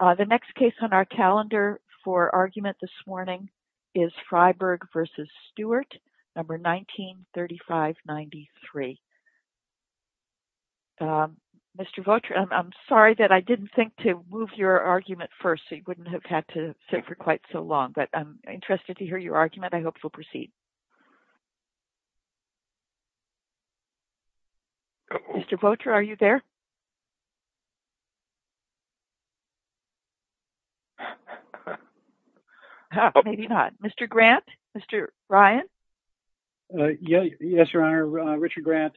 The next case on our calendar for argument this morning is Freiberg v. Stuart, number 1935-93. Mr. Voetra, I'm sorry that I didn't think to move your argument first so you wouldn't have had to sit for quite so long, but I'm interested to hear your argument. I hope you'll proceed. Mr. Voetra, are you there? Mr. Grant? Mr. Ryan? Yes, Your Honor. Richard Grant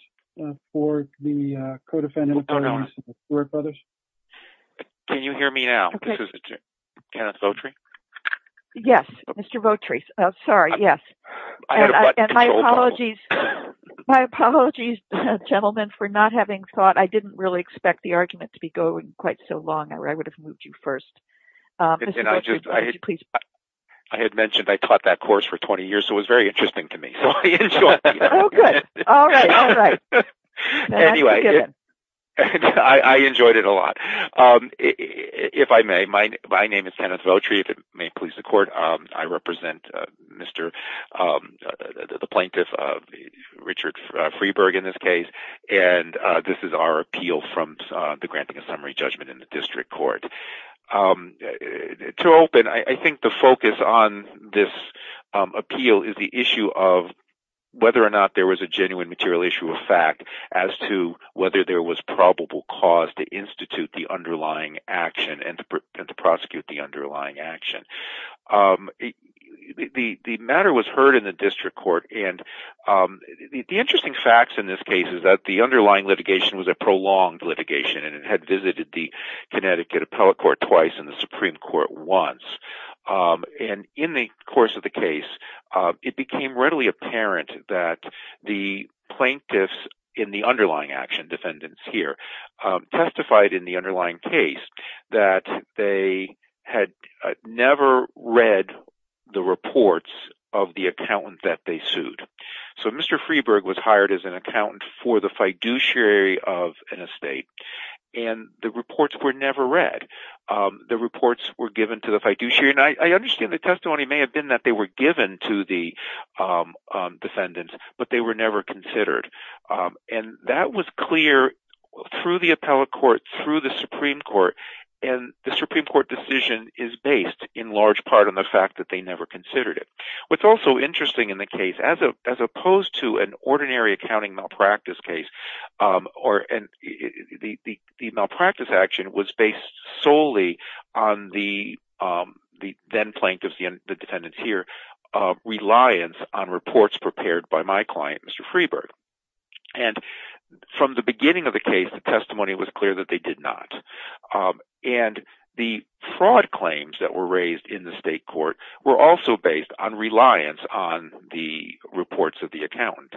for the Codefendant Authorities of the Stuart Brothers. Can you hear me now? This is Kenneth Voetra. Yes, Mr. Voetra. Sorry, yes. And my apologies, gentlemen, for not having thought. I didn't really expect the argument to be going quite so long or I would have moved you first. I had mentioned I taught that course for 20 years, so it was very interesting to me. Oh, good. All right. All right. Anyway, I enjoyed it a lot. If I may, my name is Kenneth Voetra. If it may please the Court, I represent the plaintiff, Richard Freeburg, in this case, and this is our appeal from the granting of summary judgment in the district court. To open, I think the focus on this appeal is the issue of whether or not there was a genuine material issue of fact as to whether there was probable cause to institute the underlying action and to prosecute the underlying action. The matter was heard in the district court, and the interesting facts in this case is that the underlying litigation was a prolonged litigation and it had visited the Connecticut Appellate Court twice and the Supreme Court once. And in the course of the case, it became readily apparent that the plaintiffs in the underlying action, defendants here, testified in the reports of the accountant that they sued. So Mr. Freeburg was hired as an accountant for the fiduciary of an estate, and the reports were never read. The reports were given to the fiduciary, and I understand the testimony may have been that they were given to the defendants, but they were never considered. And that was clear through the appellate court, through the Supreme Court, and the Supreme Court decision is based in large part on the fact that they never considered it. What's also interesting in the case, as opposed to an ordinary accounting malpractice case, the malpractice action was based solely on the then plaintiffs, the defendants here, reliance on reports prepared by my client, Mr. Freeburg. And from the beginning of the case, the testimony was clear that they did not. And the fraud claims that were raised in the state court were also based on reliance on the reports of the accountant.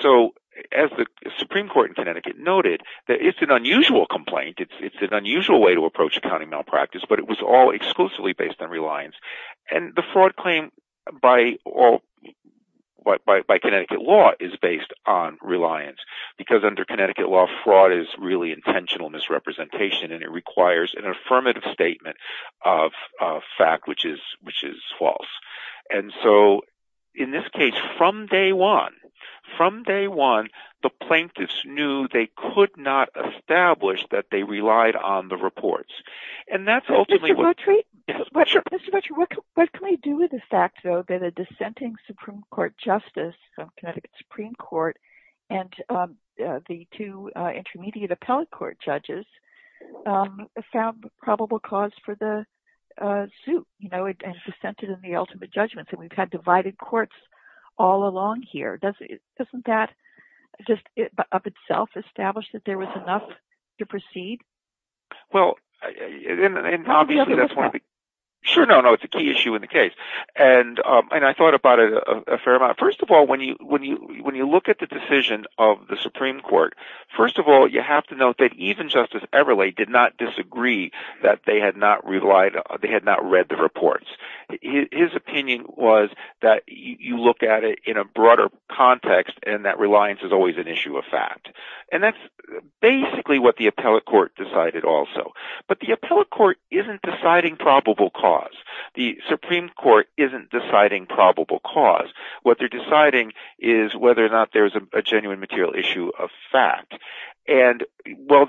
So as the Supreme Court in Connecticut noted, that it's an unusual complaint, it's an unusual way to approach accounting malpractice, but it was all exclusively based on reliance. And the fraud claim by law is based on reliance, because under Connecticut law, fraud is really intentional misrepresentation, and it requires an affirmative statement of fact, which is false. And so, in this case, from day one, the plaintiffs knew they could not establish that they relied on the Connecticut Supreme Court. And the two intermediate appellate court judges found probable cause for the suit, you know, and presented in the ultimate judgments, and we've had divided courts all along here. Doesn't that just, of itself, establish that there was enough to proceed? Well, and obviously, that's one of the... Sure, no, no, it's a key when you look at the decision of the Supreme Court. First of all, you have to note that even Justice Everly did not disagree that they had not read the reports. His opinion was that you look at it in a broader context, and that reliance is always an issue of fact. And that's basically what the appellate court decided also. But the appellate court isn't deciding probable cause. The Supreme Court isn't deciding probable cause. What they're deciding is whether or not there's a genuine material issue of fact. And, well,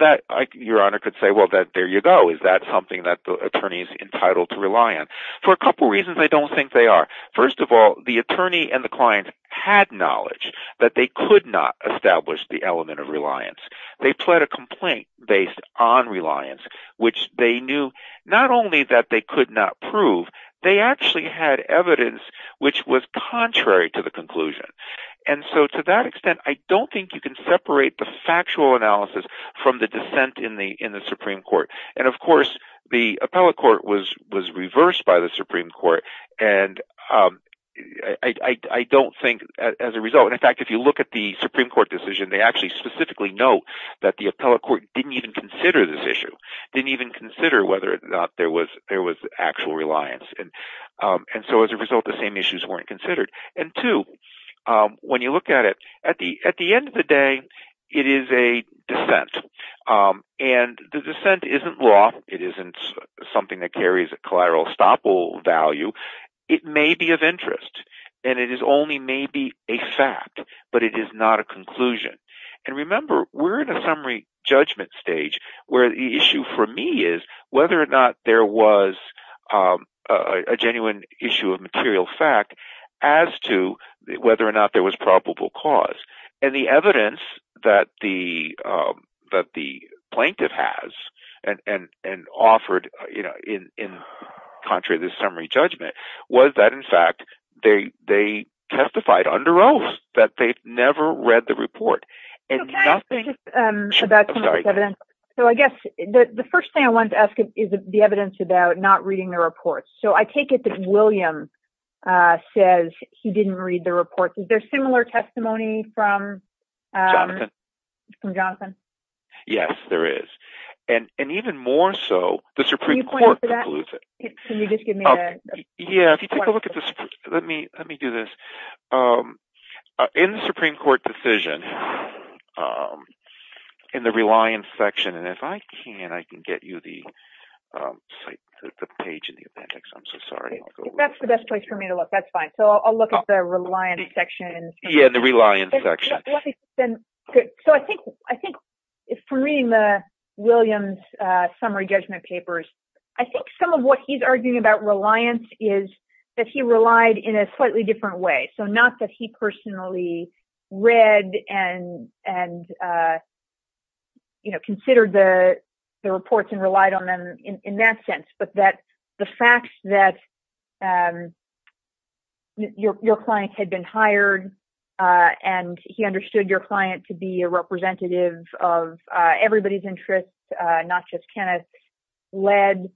Your Honor could say, well, there you go. Is that something that the attorney is entitled to rely on? For a couple reasons, I don't think they are. First of all, the attorney and the client had knowledge that they could not establish the element of reliance. They pled a complaint based on reliance, which they knew not only that they could not prove, they actually had evidence which was contrary to the conclusion. And so, to that extent, I don't think you can separate the factual analysis from the dissent in the Supreme Court. And, of course, the appellate court was reversed by the Supreme Court. And I don't think as a result... In fact, if you look at the Supreme Court decision, they actually specifically note that the appellate court didn't even consider this issue, didn't even consider whether or not there was actual reliance. And so, as a result, the same issues weren't considered. And two, when you look at it, at the end of the day, it is a dissent. And the dissent isn't law. It isn't something that carries a collateral estoppel value. It may be of interest, and it is only maybe a fact, but it is not a conclusion. And remember, we're in a summary judgment stage where the issue for me is whether or not there was a genuine issue of material fact as to whether or not there was probable cause. And the evidence that the plaintiff has and offered in contrary to the summary judgment was that, in fact, they testified under oath that they've never read the report. So, I guess the first thing I wanted to ask is the evidence about not reading the report. So, I take it that William says he didn't read the report. Is there similar testimony from... Jonathan. From Jonathan? Yes, there is. And even more so, the Supreme Court concludes it. Can you just give me a... Yeah, if you take a look at the... Let me do this. In the Supreme Court decision, in the reliance section, and if I can, I can get you the page in the appendix. I'm so sorry. That's the best place for me to look. That's fine. So, I'll look at the reliance section. Yeah, the reliance section. Let me send... So, I think from reading the Williams summary judgment papers, I think some of what he's arguing about reliance is that he relied in a slightly different way. So, not that he personally read and considered the reports and relied on them in that sense, but that the facts that your client had been hired and he understood your client to be a representative of everybody's interest, not just Kenneth's, led...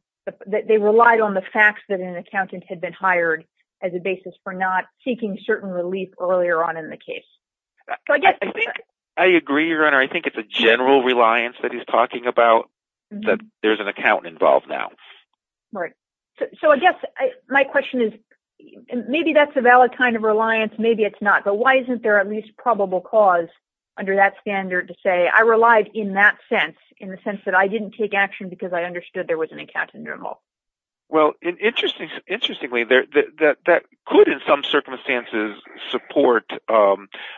They relied on the facts that an accountant had been hired as a basis for not seeking certain relief earlier on in the case. I agree, Your Honor. I think it's a general reliance that he's talking about that there's an accountant involved now. Right. So, I guess my question is, maybe that's a valid kind of reliance, maybe it's not, but why isn't there at least probable cause under that standard to say, I relied in that sense, in the sense that I didn't take action because I understood there was an accountant involved? Well, interestingly, that could, in some circumstances, support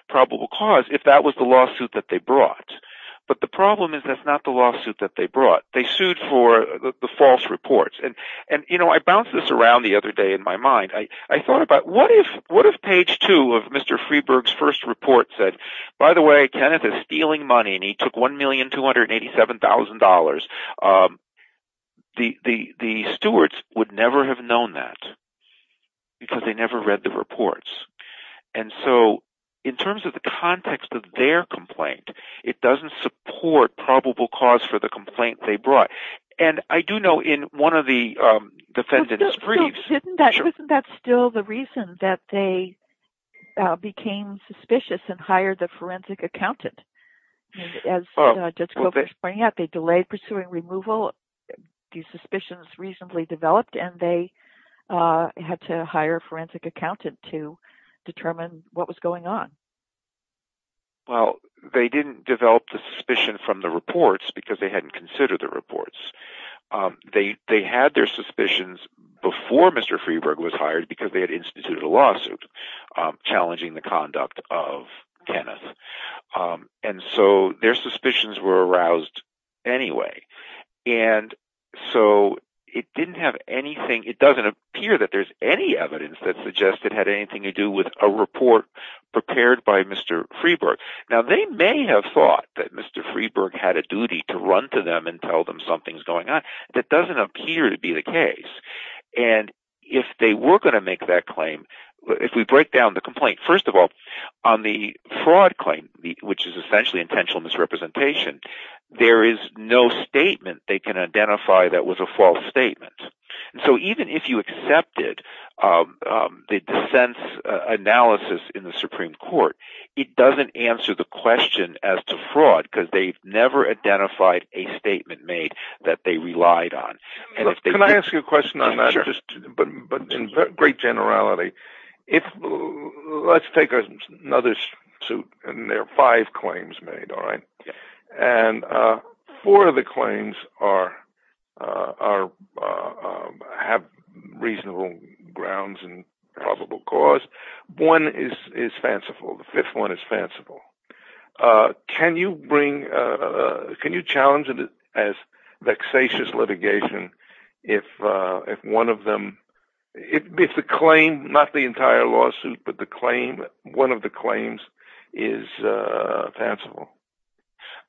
probable cause if that was the lawsuit that they brought. But the problem is that's not the lawsuit that they brought. They sued for the false reports. I bounced this around the other day in my mind. I thought about, what if page two of Mr. Freeberg's first report said, by the way, Kenneth is stealing money and he took $1,287,000. The stewards would never have known that because they never read the reports. And so, in terms of the support, it doesn't support probable cause for the complaint they brought. And I do know in one of the defendants' briefs- So, isn't that still the reason that they became suspicious and hired the forensic accountant? As Judge Kovach was pointing out, they delayed pursuing removal. These suspicions reasonably developed and they had to hire a forensic accountant to determine what was going on. Well, they didn't develop the suspicion from the reports because they hadn't considered the reports. They had their suspicions before Mr. Freeberg was hired because they had instituted a lawsuit challenging the conduct of Kenneth. And so, their suspicions were aroused anyway. And so, it didn't have anything- It doesn't appear that there's any evidence that suggested anything to do with a report prepared by Mr. Freeberg. Now, they may have thought that Mr. Freeberg had a duty to run to them and tell them something's going on. That doesn't appear to be the case. And if they were going to make that claim, if we break down the complaint, first of all, on the fraud claim, which is essentially intentional misrepresentation, there is no statement they can identify that was a false statement. And so, even if you accepted the dissent analysis in the Supreme Court, it doesn't answer the question as to fraud because they've never identified a statement made that they relied on. Can I ask you a question on that? Sure. But in great generality, let's take another suit and there are five claims made, all right? And four of the claims are- have reasonable grounds and probable cause. One is fanciful. The fifth one is fanciful. Can you bring- Can you challenge it as vexatious litigation if one of them- If the claim, not the entire lawsuit, but the claim, one of the claims is fanciful?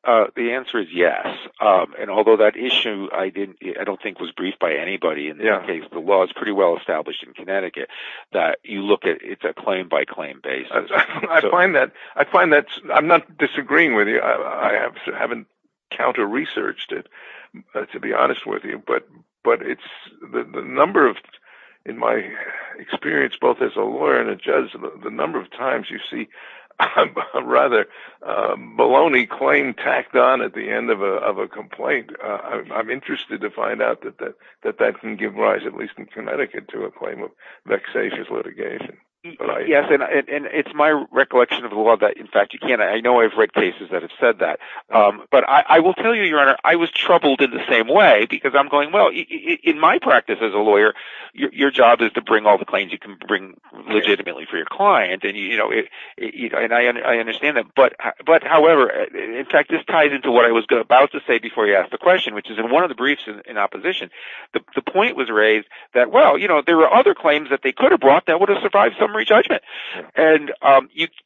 The answer is yes. And although that issue I didn't- I don't think was briefed by anybody. In that case, the law is pretty well established in Connecticut that you look at- it's a claim by claim basis. I find that- I find that- I'm not disagreeing with you. I haven't counter-researched it, to be honest with you. But it's- the number of- in my experience, both as a lawyer and a judge, the number of times you see a rather baloney claim tacked on at the end of a complaint, I'm interested to find out that that can give rise, at least in Connecticut, to a claim of vexatious litigation. Yes. And it's my recollection of the law that, in fact, you can't- I know I've read cases that have said that. But I will tell you, Your Honor, I was troubled in the same way because I'm going, well, in my practice as a lawyer, your job is to bring all the claims you bring legitimately for your client. And I understand that. But however, in fact, this ties into what I was about to say before you asked the question, which is in one of the briefs in opposition, the point was raised that, well, you know, there were other claims that they could have brought that would have survived summary judgment. And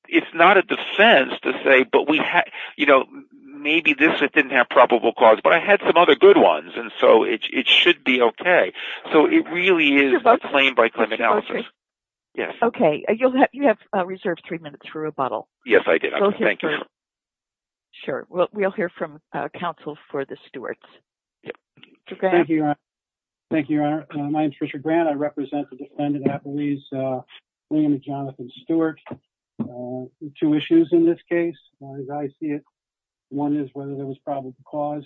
it's not a defense to say, but we had- you know, maybe this didn't have probable cause, but I had some other good ones. And so it should be OK. So it really is a claim by claim analysis. OK. You have reserved three minutes for rebuttal. Yes, I did. Thank you. Sure. Well, we'll hear from counsel for the Stewarts. Thank you, Your Honor. My name's Richard Grant. I represent the defendant at Belize, William and Jonathan Stewart. Two issues in this case, as I see it. One is whether there was probable cause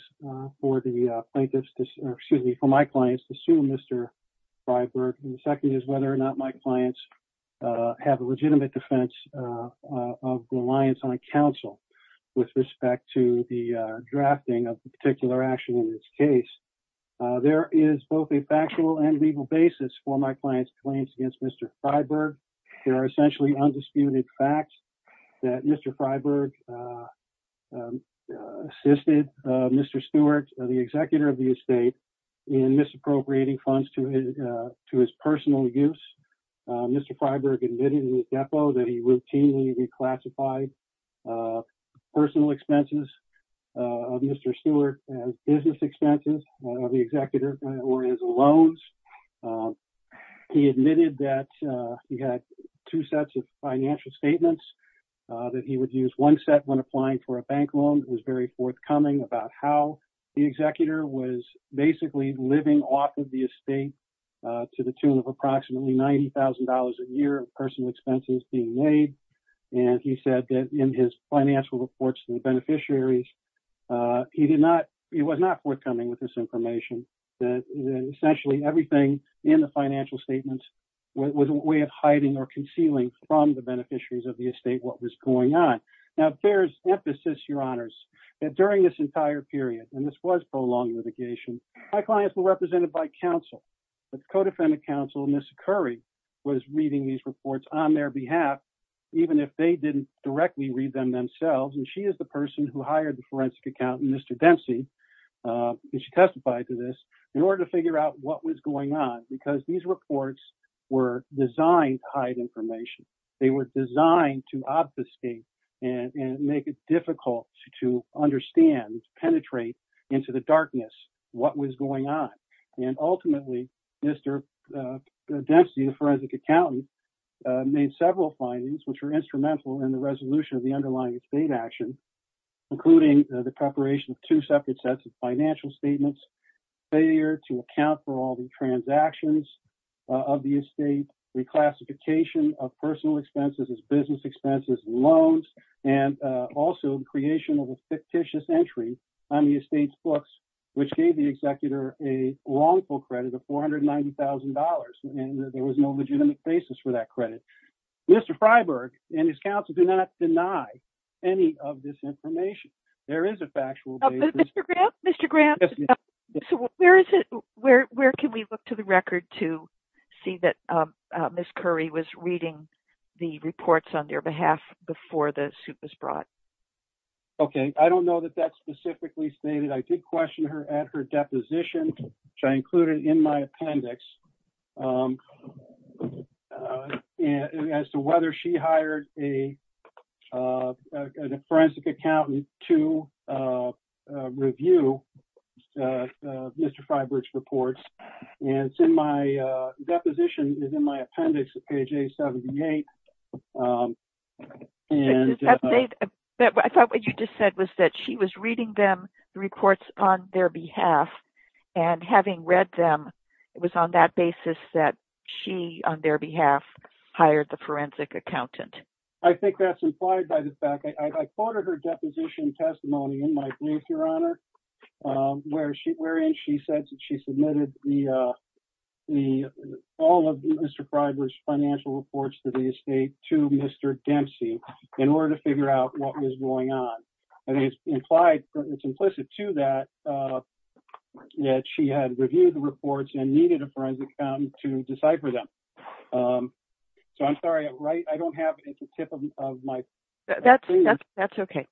for the plaintiffs, excuse me, for my clients to sue Mr. Freiberg. And the second is whether or not my clients have a legitimate defense of reliance on counsel with respect to the drafting of the particular action in this case. There is both a factual and legal basis for my client's claims against Mr. Freiberg. There are essentially undisputed facts that Mr. Freiberg assisted Mr. Stewart, the executor of the estate, in misappropriating funds to his personal use. Mr. Freiberg admitted with depo that he routinely reclassified personal expenses of Mr. Stewart as business expenses of the executor or as loans. He admitted that he had two sets of financial statements, that he would use one set when applying for a bank loan. It was very forthcoming about how the executor was basically living off of the estate to the tune of approximately $90,000 a year of personal expenses being made. And he said that in his financial reports to the beneficiaries, he did not, he was not forthcoming with this information, that essentially everything in the financial statements was a way of hiding or concealing from the beneficiaries of the estate what was going on. Now there's emphasis, your honors, that during this entire period, and this was prolonged litigation, my clients were represented by counsel. The co-defendant counsel, Ms. Curry, was reading these reports on their behalf, even if they didn't directly read them themselves. And she is the person who hired the forensic accountant, Mr. Dempsey, and she testified to this, in order to figure out what was going on, because these reports were designed to hide information. They were designed to obfuscate and make it difficult to understand, penetrate into the darkness, what was going on. And ultimately, Mr. Dempsey, the forensic accountant, made several findings, which were instrumental in the resolution of the underlying estate action, including the preparation of two separate sets of financial statements, failure to account for all the transactions of the estate, reclassification of personal expenses as business expenses, loans, and also the creation of a fictitious entry on the estate's books, which gave the executor a wrongful credit of $490,000, and there was no deny any of this information. There is a factual basis... Mr. Gramps, where can we look to the record to see that Ms. Curry was reading the reports on their behalf before the suit was brought? Okay, I don't know that that's specifically stated. I did question her at her deposition, which I included in my appendix, as to whether she hired a forensic accountant to review Mr. Freiburg's reports. And my deposition is in my appendix at page 878. I thought what you just said was that she was reading them, the reports on their behalf, and having read them, it was on that basis that she, on their behalf, hired the forensic accountant. I think that's implied by the fact... I quoted her deposition testimony in my brief, Your Honor, wherein she said that she submitted all of Mr. Freiburg's financial reports to the estate to Mr. Dempsey in order to figure out what was going on. And it's implied, it's implicit to that, that she had reviewed the reports and needed a forensic accountant to decipher them. So I'm sorry, I don't have at the tip of my... That's okay.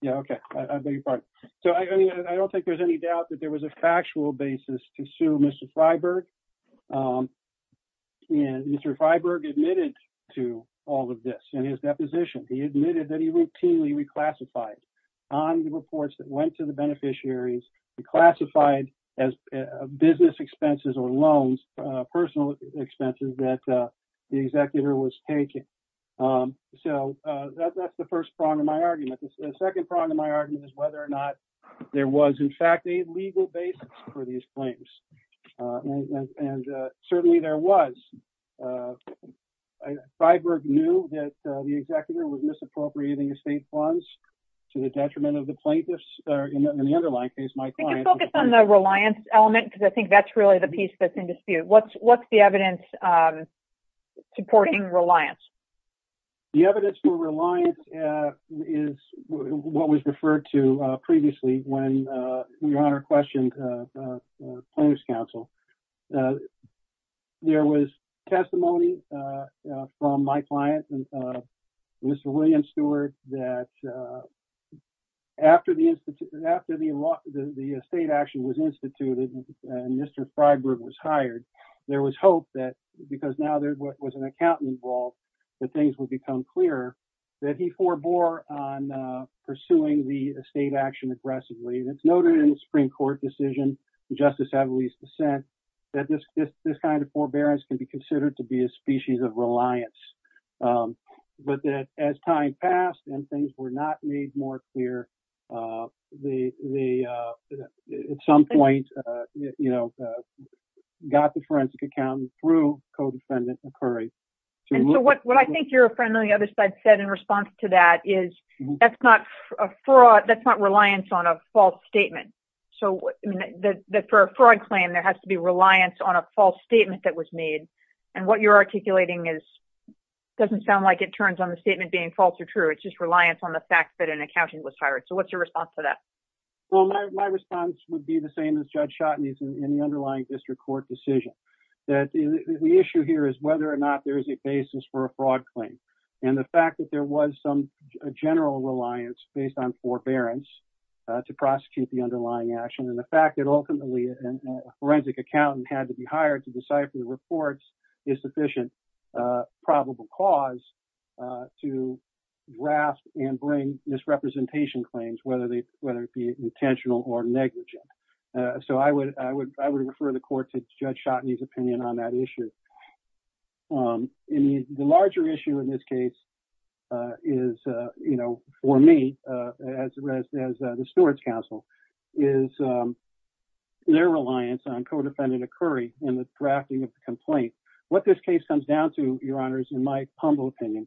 Yeah, okay. I beg your pardon. So I don't think there's any doubt that there was a factual basis to sue Mr. Freiburg. Mr. Freiburg admitted to all of this in his deposition. He admitted that he routinely reclassified on the reports that went to the beneficiaries, classified as business expenses or loans, personal expenses that the executor was taking. So that's the first prong of my argument. The second prong of my argument is whether or not there was in fact a legal basis for these claims. And certainly there was. Freiburg knew that the executor was misappropriating estate funds to the detriment of the plaintiffs. In the underlying case, my client... Can you focus on the reliance element? Because I think that's really the piece that's in dispute. What's the evidence supporting reliance? The evidence for reliance is what was referred to previously when your honor questioned plaintiff's counsel. There was testimony from my client, Mr. William Stewart, that after the estate action was instituted and Mr. Freiburg was hired, there was hope that... Because now there was an accountant involved, that things would become clearer, that he forbore on pursuing the estate action aggressively. And it's noted in the Supreme Court decision, Justice Avelis' dissent, that this kind of forbearance can be considered to be a species of reliance. But that as time passed and things were not made more clear, at some point, got the forensic accountant through co-defendant McCurry. So what I think your friend on the other side said in response to that is, that's not reliance on a false statement. So for a fraud claim, there has to be reliance on a false statement that was made. And what you're articulating doesn't sound like it turns on the statement being false or true. It's just reliance on the fact that an accountant was hired. So what's your response to that? Well, my response would be the same as Judge Schotten's in the underlying district court decision. The issue here is whether or not there is a basis for a fraud claim. And the fact that there was some general reliance based on forbearance to prosecute the underlying action, and the fact that ultimately a forensic accountant had to be hired to decipher the reports is sufficient probable cause to grasp and bring misrepresentation claims, whether it be intentional or negligent. So I would refer the court to Judge Schotten's opinion on that issue. The larger issue in this case is, for me, as the stewards counsel, is their reliance on co-defendant McCurry in the drafting of the complaint. What this case comes down to, your honors, in my humble opinion,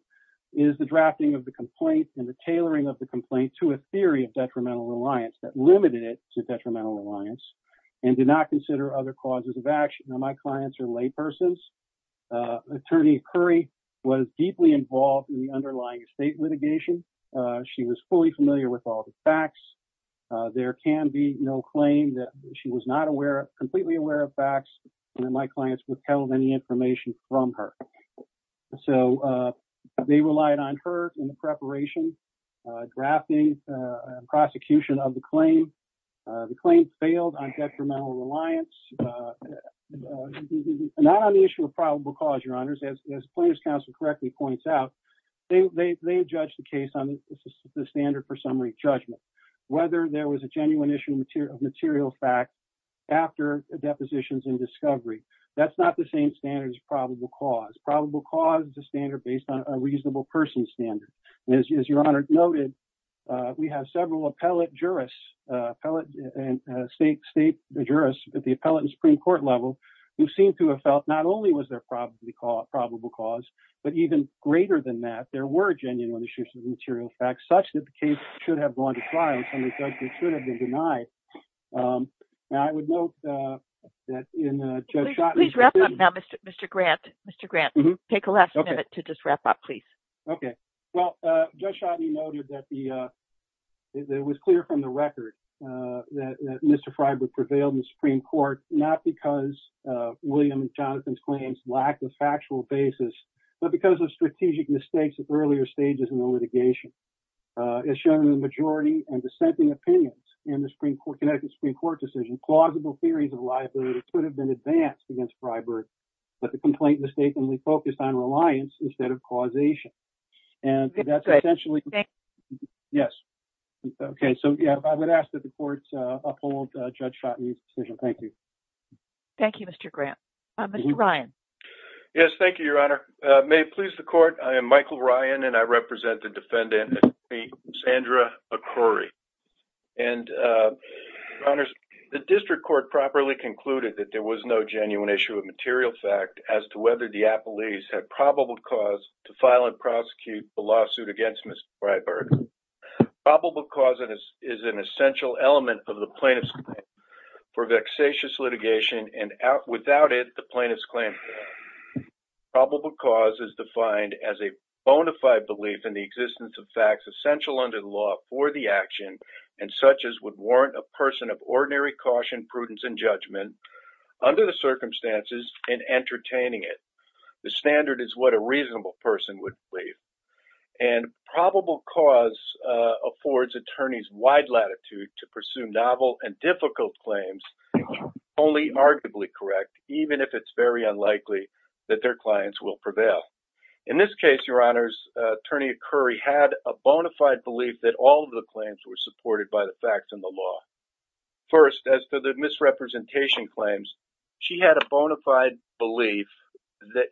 is the drafting of the complaint and the tailoring of the complaint to a theory of detrimental reliance, and did not consider other causes of action. Now, my clients are laypersons. Attorney Curry was deeply involved in the underlying estate litigation. She was fully familiar with all the facts. There can be no claim that she was not aware of, completely aware of facts, and my clients withheld any information from her. So they relied on her in the preparation, drafting, prosecution of the claim. The claim failed on detrimental reliance, not on the issue of probable cause, your honors. As the plaintiff's counsel correctly points out, they judged the case on the standard for summary judgment. Whether there was a genuine issue of material fact after depositions and discovery, that's not the same standard as probable cause. It's a standard based on a reasonable person's standard. As your honors noted, we have several appellate jurists, state jurists at the appellate and Supreme Court level, who seem to have felt not only was there probable cause, but even greater than that, there were genuine issues of material facts, such that the case should have gone to trial, summary judgment should have been denied. Now, I would note that in Judge Chotteny's- Please wrap up now, Mr. Grant. Mr. Grant, take a last minute to just wrap up, please. Okay. Well, Judge Chotteny noted that it was clear from the record that Mr. Freiberg prevailed in the Supreme Court, not because of William and Jonathan's claims lacked a factual basis, but because of strategic mistakes at earlier stages in the litigation. As shown in the majority and dissenting opinions in the Connecticut Supreme Court decision, plausible theories of liability could have been advanced against Freiberg, but the complaint mistakenly focused on reliance instead of causation. Yes. Okay. So, yeah, I would ask that the court uphold Judge Chotteny's decision. Thank you. Thank you, Mr. Grant. Mr. Ryan. Yes. Thank you, Your Honor. May it please the court, I am Michael Ryan, and I represent the defendant, Sandra Okori. And, Your Honor, the district court properly concluded that there was no genuine issue of material fact as to whether the appellees had probable cause to file and prosecute the lawsuit against Mr. Freiberg. Probable cause is an essential element of the plaintiff's claim for vexatious litigation, and without it, the plaintiff's claim is void. Probable cause is defined as a bona fide belief in the existence of facts essential under the law for the action, and such as would warrant a person of ordinary caution, prudence, and judgment under the circumstances and entertaining it. The standard is what a reasonable person would believe. And probable cause affords attorneys wide latitude to pursue novel and difficult claims, only arguably correct, even if it's very unlikely that their clients will prevail. In this case, Your Honors, Attorney Okori had a bona fide belief that all of the claims were supported by the facts and the law. First, as to the misrepresentation claims, she had a bona fide belief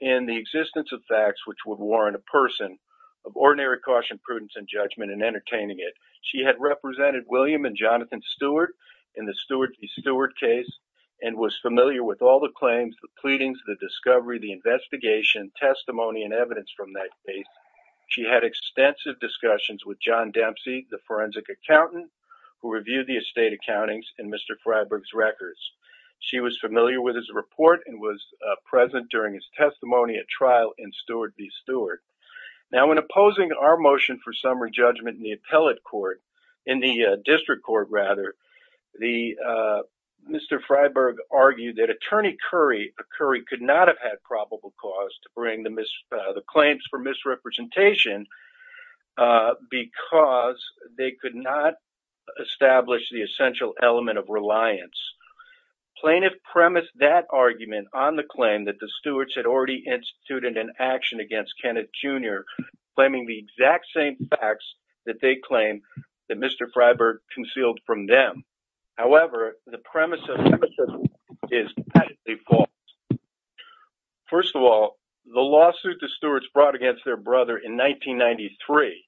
in the existence of facts which would warrant a person of ordinary caution, prudence, and judgment in entertaining it. She had represented William and Jonathan Steward in the Steward v. Steward case and was familiar with all the claims, the pleadings, the discovery, the investigation, testimony, and evidence from that case. She had extensive discussions with John Dempsey, the forensic accountant who reviewed the estate accountings in Mr. Freiberg's records. She was familiar with his report and was present during his testimony at trial in Steward v. Steward. Now, in opposing our motion for summary judgment in the District Court, Mr. Freiberg argued that Attorney Okori could not have had probable cause to bring the claims for misrepresentation because they could not establish the essential element of reliance. Plaintiff premised that argument on the claim that the they claim that Mr. Freiberg concealed from them. However, the premise of the case is First of all, the lawsuit the Stewards brought against their brother in 1993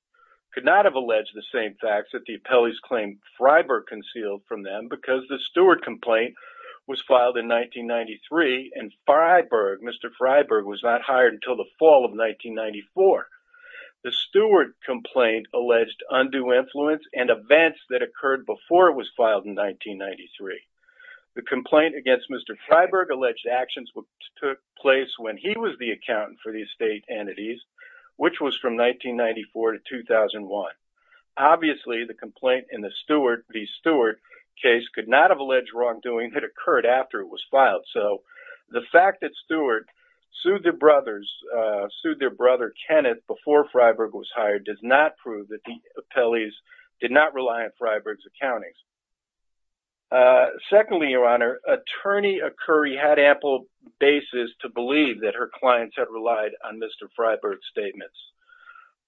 could not have alleged the same facts that the appellees claimed Freiberg concealed from them because the Steward complaint was filed in 1993 and Mr. Freiberg was not hired until the fall of 1994. The Steward complaint alleged undue influence and events that occurred before it was filed in 1993. The complaint against Mr. Freiberg alleged actions took place when he was the accountant for the estate entities, which was from 1994 to 2001. Obviously, the complaint in the Steward v. Steward case could not have alleged wrongdoing had occurred after it was filed. So, the fact that Steward sued their brother Kenneth before Freiberg was hired does not prove that the appellees did not rely on Freiberg's accountings. Secondly, Your Honor, Attorney Okori had ample basis to believe that her clients had relied on Mr. Freiberg's statements.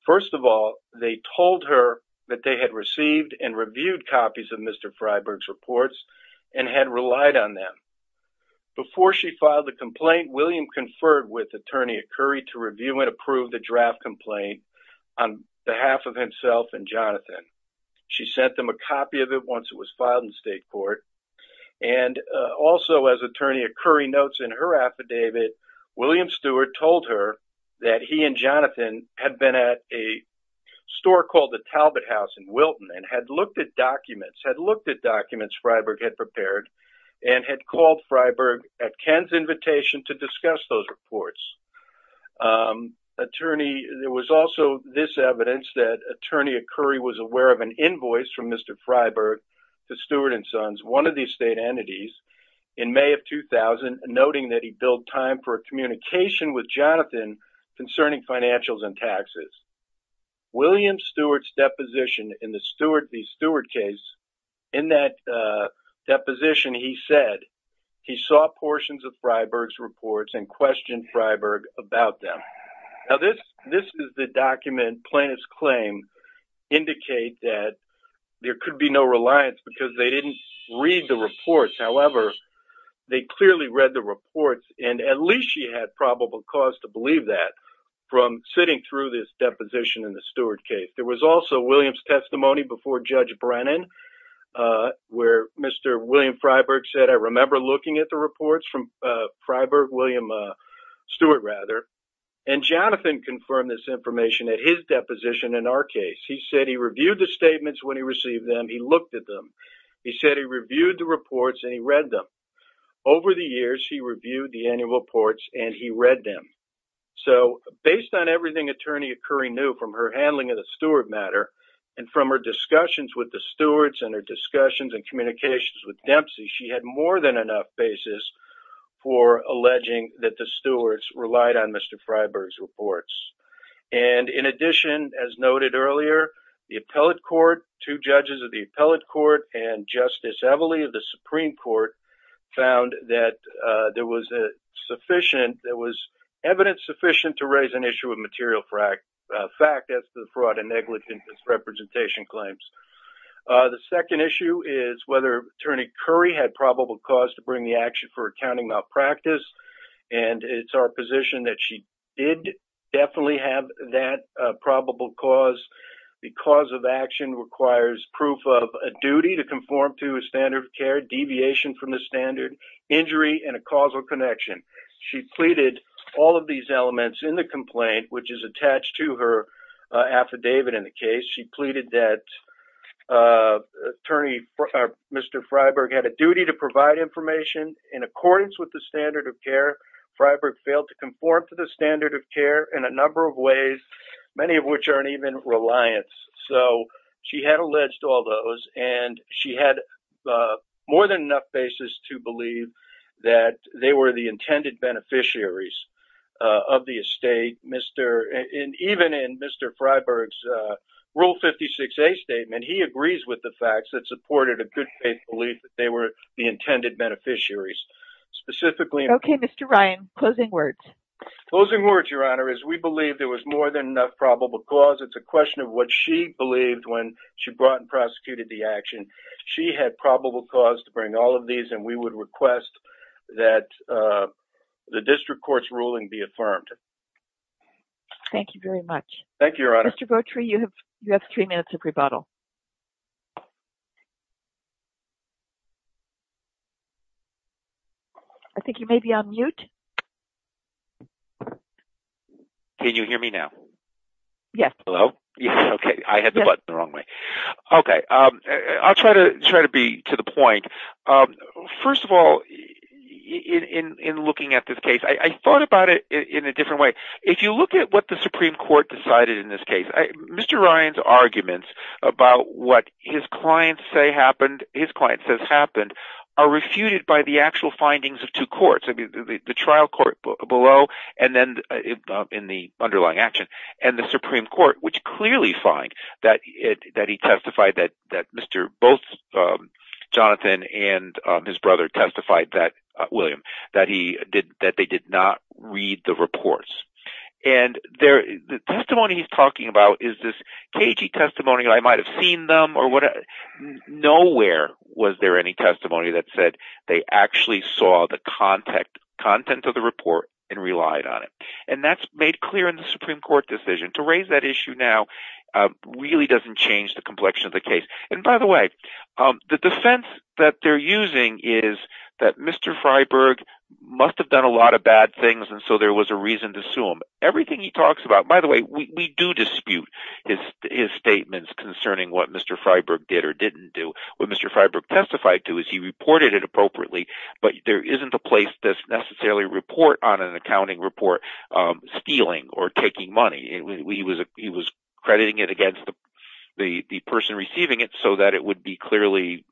First of all, they told her that they had received and reviewed copies of Mr. Freiberg's reports and had relied on them. Before she filed the complaint, William conferred with Attorney Okori to review and approve the draft complaint on behalf of himself and Jonathan. She sent them a copy of it once it was filed in state court and also, as Attorney Okori notes in her affidavit, William Steward told her that he and Jonathan had been at a store called the Talbot House in Wilton and had looked at documents Freiberg had prepared and had called Freiberg at Ken's invitation to discuss those reports. There was also this evidence that Attorney Okori was aware of an invoice from Mr. Freiberg to Steward and Sons, one of these state entities, in May of 2000, noting that he billed time for a communication with Jonathan concerning financials and taxes. William Steward's case, in that deposition, he said he saw portions of Freiberg's reports and questioned Freiberg about them. Now, this is the document plaintiff's claims indicate that there could be no reliance because they didn't read the reports. However, they clearly read the reports and at least she had probable cause to believe that from sitting through this deposition in the Steward case. There was also William's testimony before Judge Brennan where Mr. William Freiberg said, I remember looking at the reports from Freiberg, William Steward rather, and Jonathan confirmed this information at his deposition in our case. He said he reviewed the statements when he received them. He looked at them. He said he reviewed the reports and he read them. Over the years, he reviewed the annual reports and he read them. So, based on everything Attorney Okori knew from her handling of the Steward matter and from her discussions with the Stewards and her discussions and communications with Dempsey, she had more than enough basis for alleging that the Stewards relied on Mr. Freiberg's reports. And in addition, as noted earlier, the Appellate Court, two judges of the Appellate Court, and Justice Evely of the Supreme Court found that there was sufficient, there was evidence sufficient to raise an issue of material fact as to the fraud and negligence representation claims. The second issue is whether Attorney Curry had probable cause to bring the action for accounting malpractice. And it's our position that she did definitely have that probable cause. The cause of action requires proof of a duty to conform to a standard of care, deviation from the standard, injury, and a causal connection. She pleaded all of these elements in the complaint, which is attached to her affidavit in the case. She pleaded that Mr. Freiberg had a duty to provide information in accordance with the standard of care. Freiberg failed to conform to the standard of care in a number of ways, many of which aren't even reliance. So she had alleged all those, and she had more than enough basis to believe that they were the intended beneficiaries of the estate. Even in Mr. Freiberg's Rule 56a statement, he agrees with the facts that supported a good faith belief that they were the intended beneficiaries. Specifically... Okay, Mr. Ryan, closing words. Closing words, Your Honor, is we believe there was more than enough probable cause. It's a question of what she believed when she brought and prosecuted the action. She had probable cause to bring all of these, and we would request that the district court's ruling be affirmed. Thank you very much. Thank you, Your Honor. Mr. Gautreaux, you have three minutes of rebuttal. I think you may be on mute. Can you hear me now? Yes. Okay, I had the button the wrong way. Okay, I'll try to be to the point. First of all, in looking at this case, I thought about it in a different way. If you look at what the Supreme Court decided in this case, Mr. Ryan's arguments about what his client says happened are refuted by the actual findings of two courts, the trial court below and then in the underlying action, and the Supreme Court, which clearly find that he testified that both Jonathan and his brother testified, William, that they did not read the reports. The testimony he's talking about is this cagey testimony. I might have seen them or whatever. Nowhere was there any testimony that said they actually saw the content of the report and relied on it. That's made clear in the Supreme Court decision. To raise that issue now really doesn't change the complexion of the case. By the way, the defense that they're using is that Mr. Freiberg must have done a lot of bad things and so there was a reason to sue him. Everything he talks about, by the way, we do dispute his statements concerning what Mr. Freiberg did or didn't do. What Mr. Freiberg testified to is he reported it appropriately, but there isn't a place that's necessarily report on an accounting report stealing or taking money. He was crediting it against the person receiving it so that it would be clearly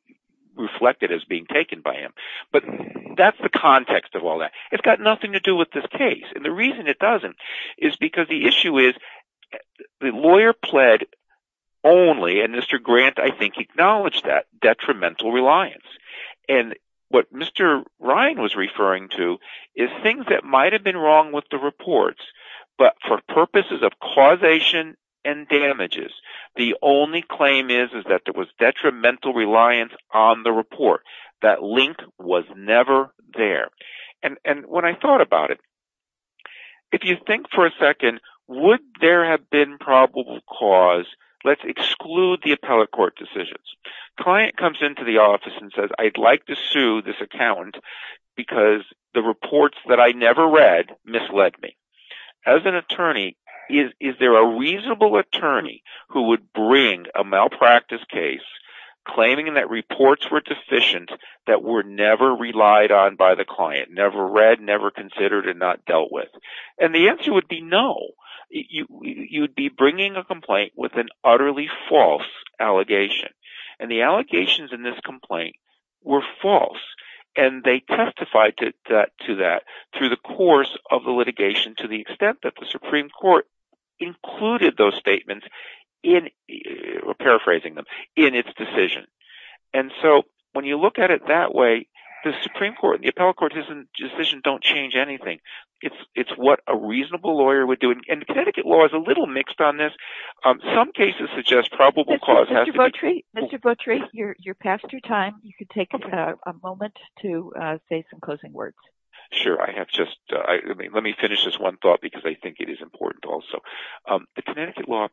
reflected as being taken by him. That's the context of all that. It's got nothing to do with this case. The reason it doesn't is because the issue is the lawyer pled only, and Mr. Grant, I think, acknowledged that detrimental reliance. What Mr. Ryan was referring to is things that might have been wrong with the reports, but for purposes of causation and damages, the only claim is that there was detrimental reliance on the report. That link was never there. When I thought about it, if you think for a second, would there have been probable cause, let's exclude the appellate court decisions. Client comes into the office and says, I'd like to sue this accountant because the reports that I never read misled me. As an attorney, is there a reasonable attorney who would bring a malpractice case claiming that reports were deficient that were never relied on by the client, never read, never considered, and not dealt with? The answer would be no. You'd be bringing a complaint with an utterly false allegation. The allegations in this complaint were false. They testified to that through the course of the litigation to the extent that the Supreme Court included those statements, paraphrasing them, in its decision. When you look at it that way, the Supreme Court and the appellate court decision don't change anything. It's what a reasonable lawyer would do. The Connecticut law is a little mixed on this. Some cases suggest probable cause has to be... Mr. Votri, you're past your time. You can take a moment to say some closing words. Sure. Let me finish this one thought because I think it is important also. The Connecticut law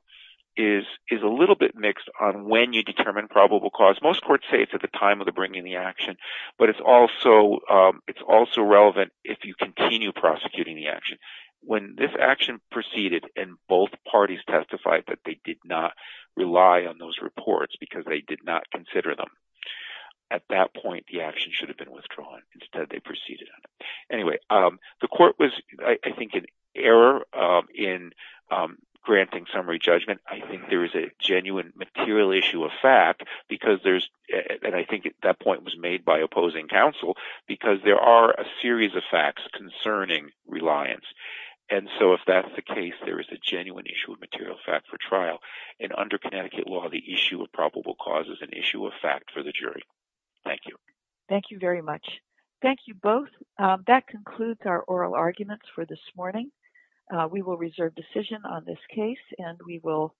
is a little bit mixed on when you determine probable cause. Most courts say it's at the time of bringing the action, but it's also relevant if you continue prosecuting the action. When this action proceeded and both parties testified that they did not rely on those reports because they did not consider them, at that point, the action should have been withdrawn. Instead, they proceeded on it. Anyway, the court was, I think, in error in granting summary judgment. I think there is a genuine material issue of fact, and I think that point was made by opposing counsel because there are a series of facts concerning reliance. If that's the case, there is a genuine issue of material fact for trial. Under Connecticut law, the issue of probable cause is an issue of fact for the jury. Thank you. Thank you very much. Thank you both. That concludes our oral arguments for this morning. We will reserve decision on this case, and we will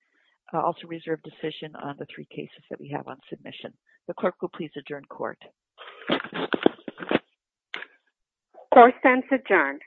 also reserve decision on the three cases that we have on submission. The clerk will please adjourn court. Court stands adjourned.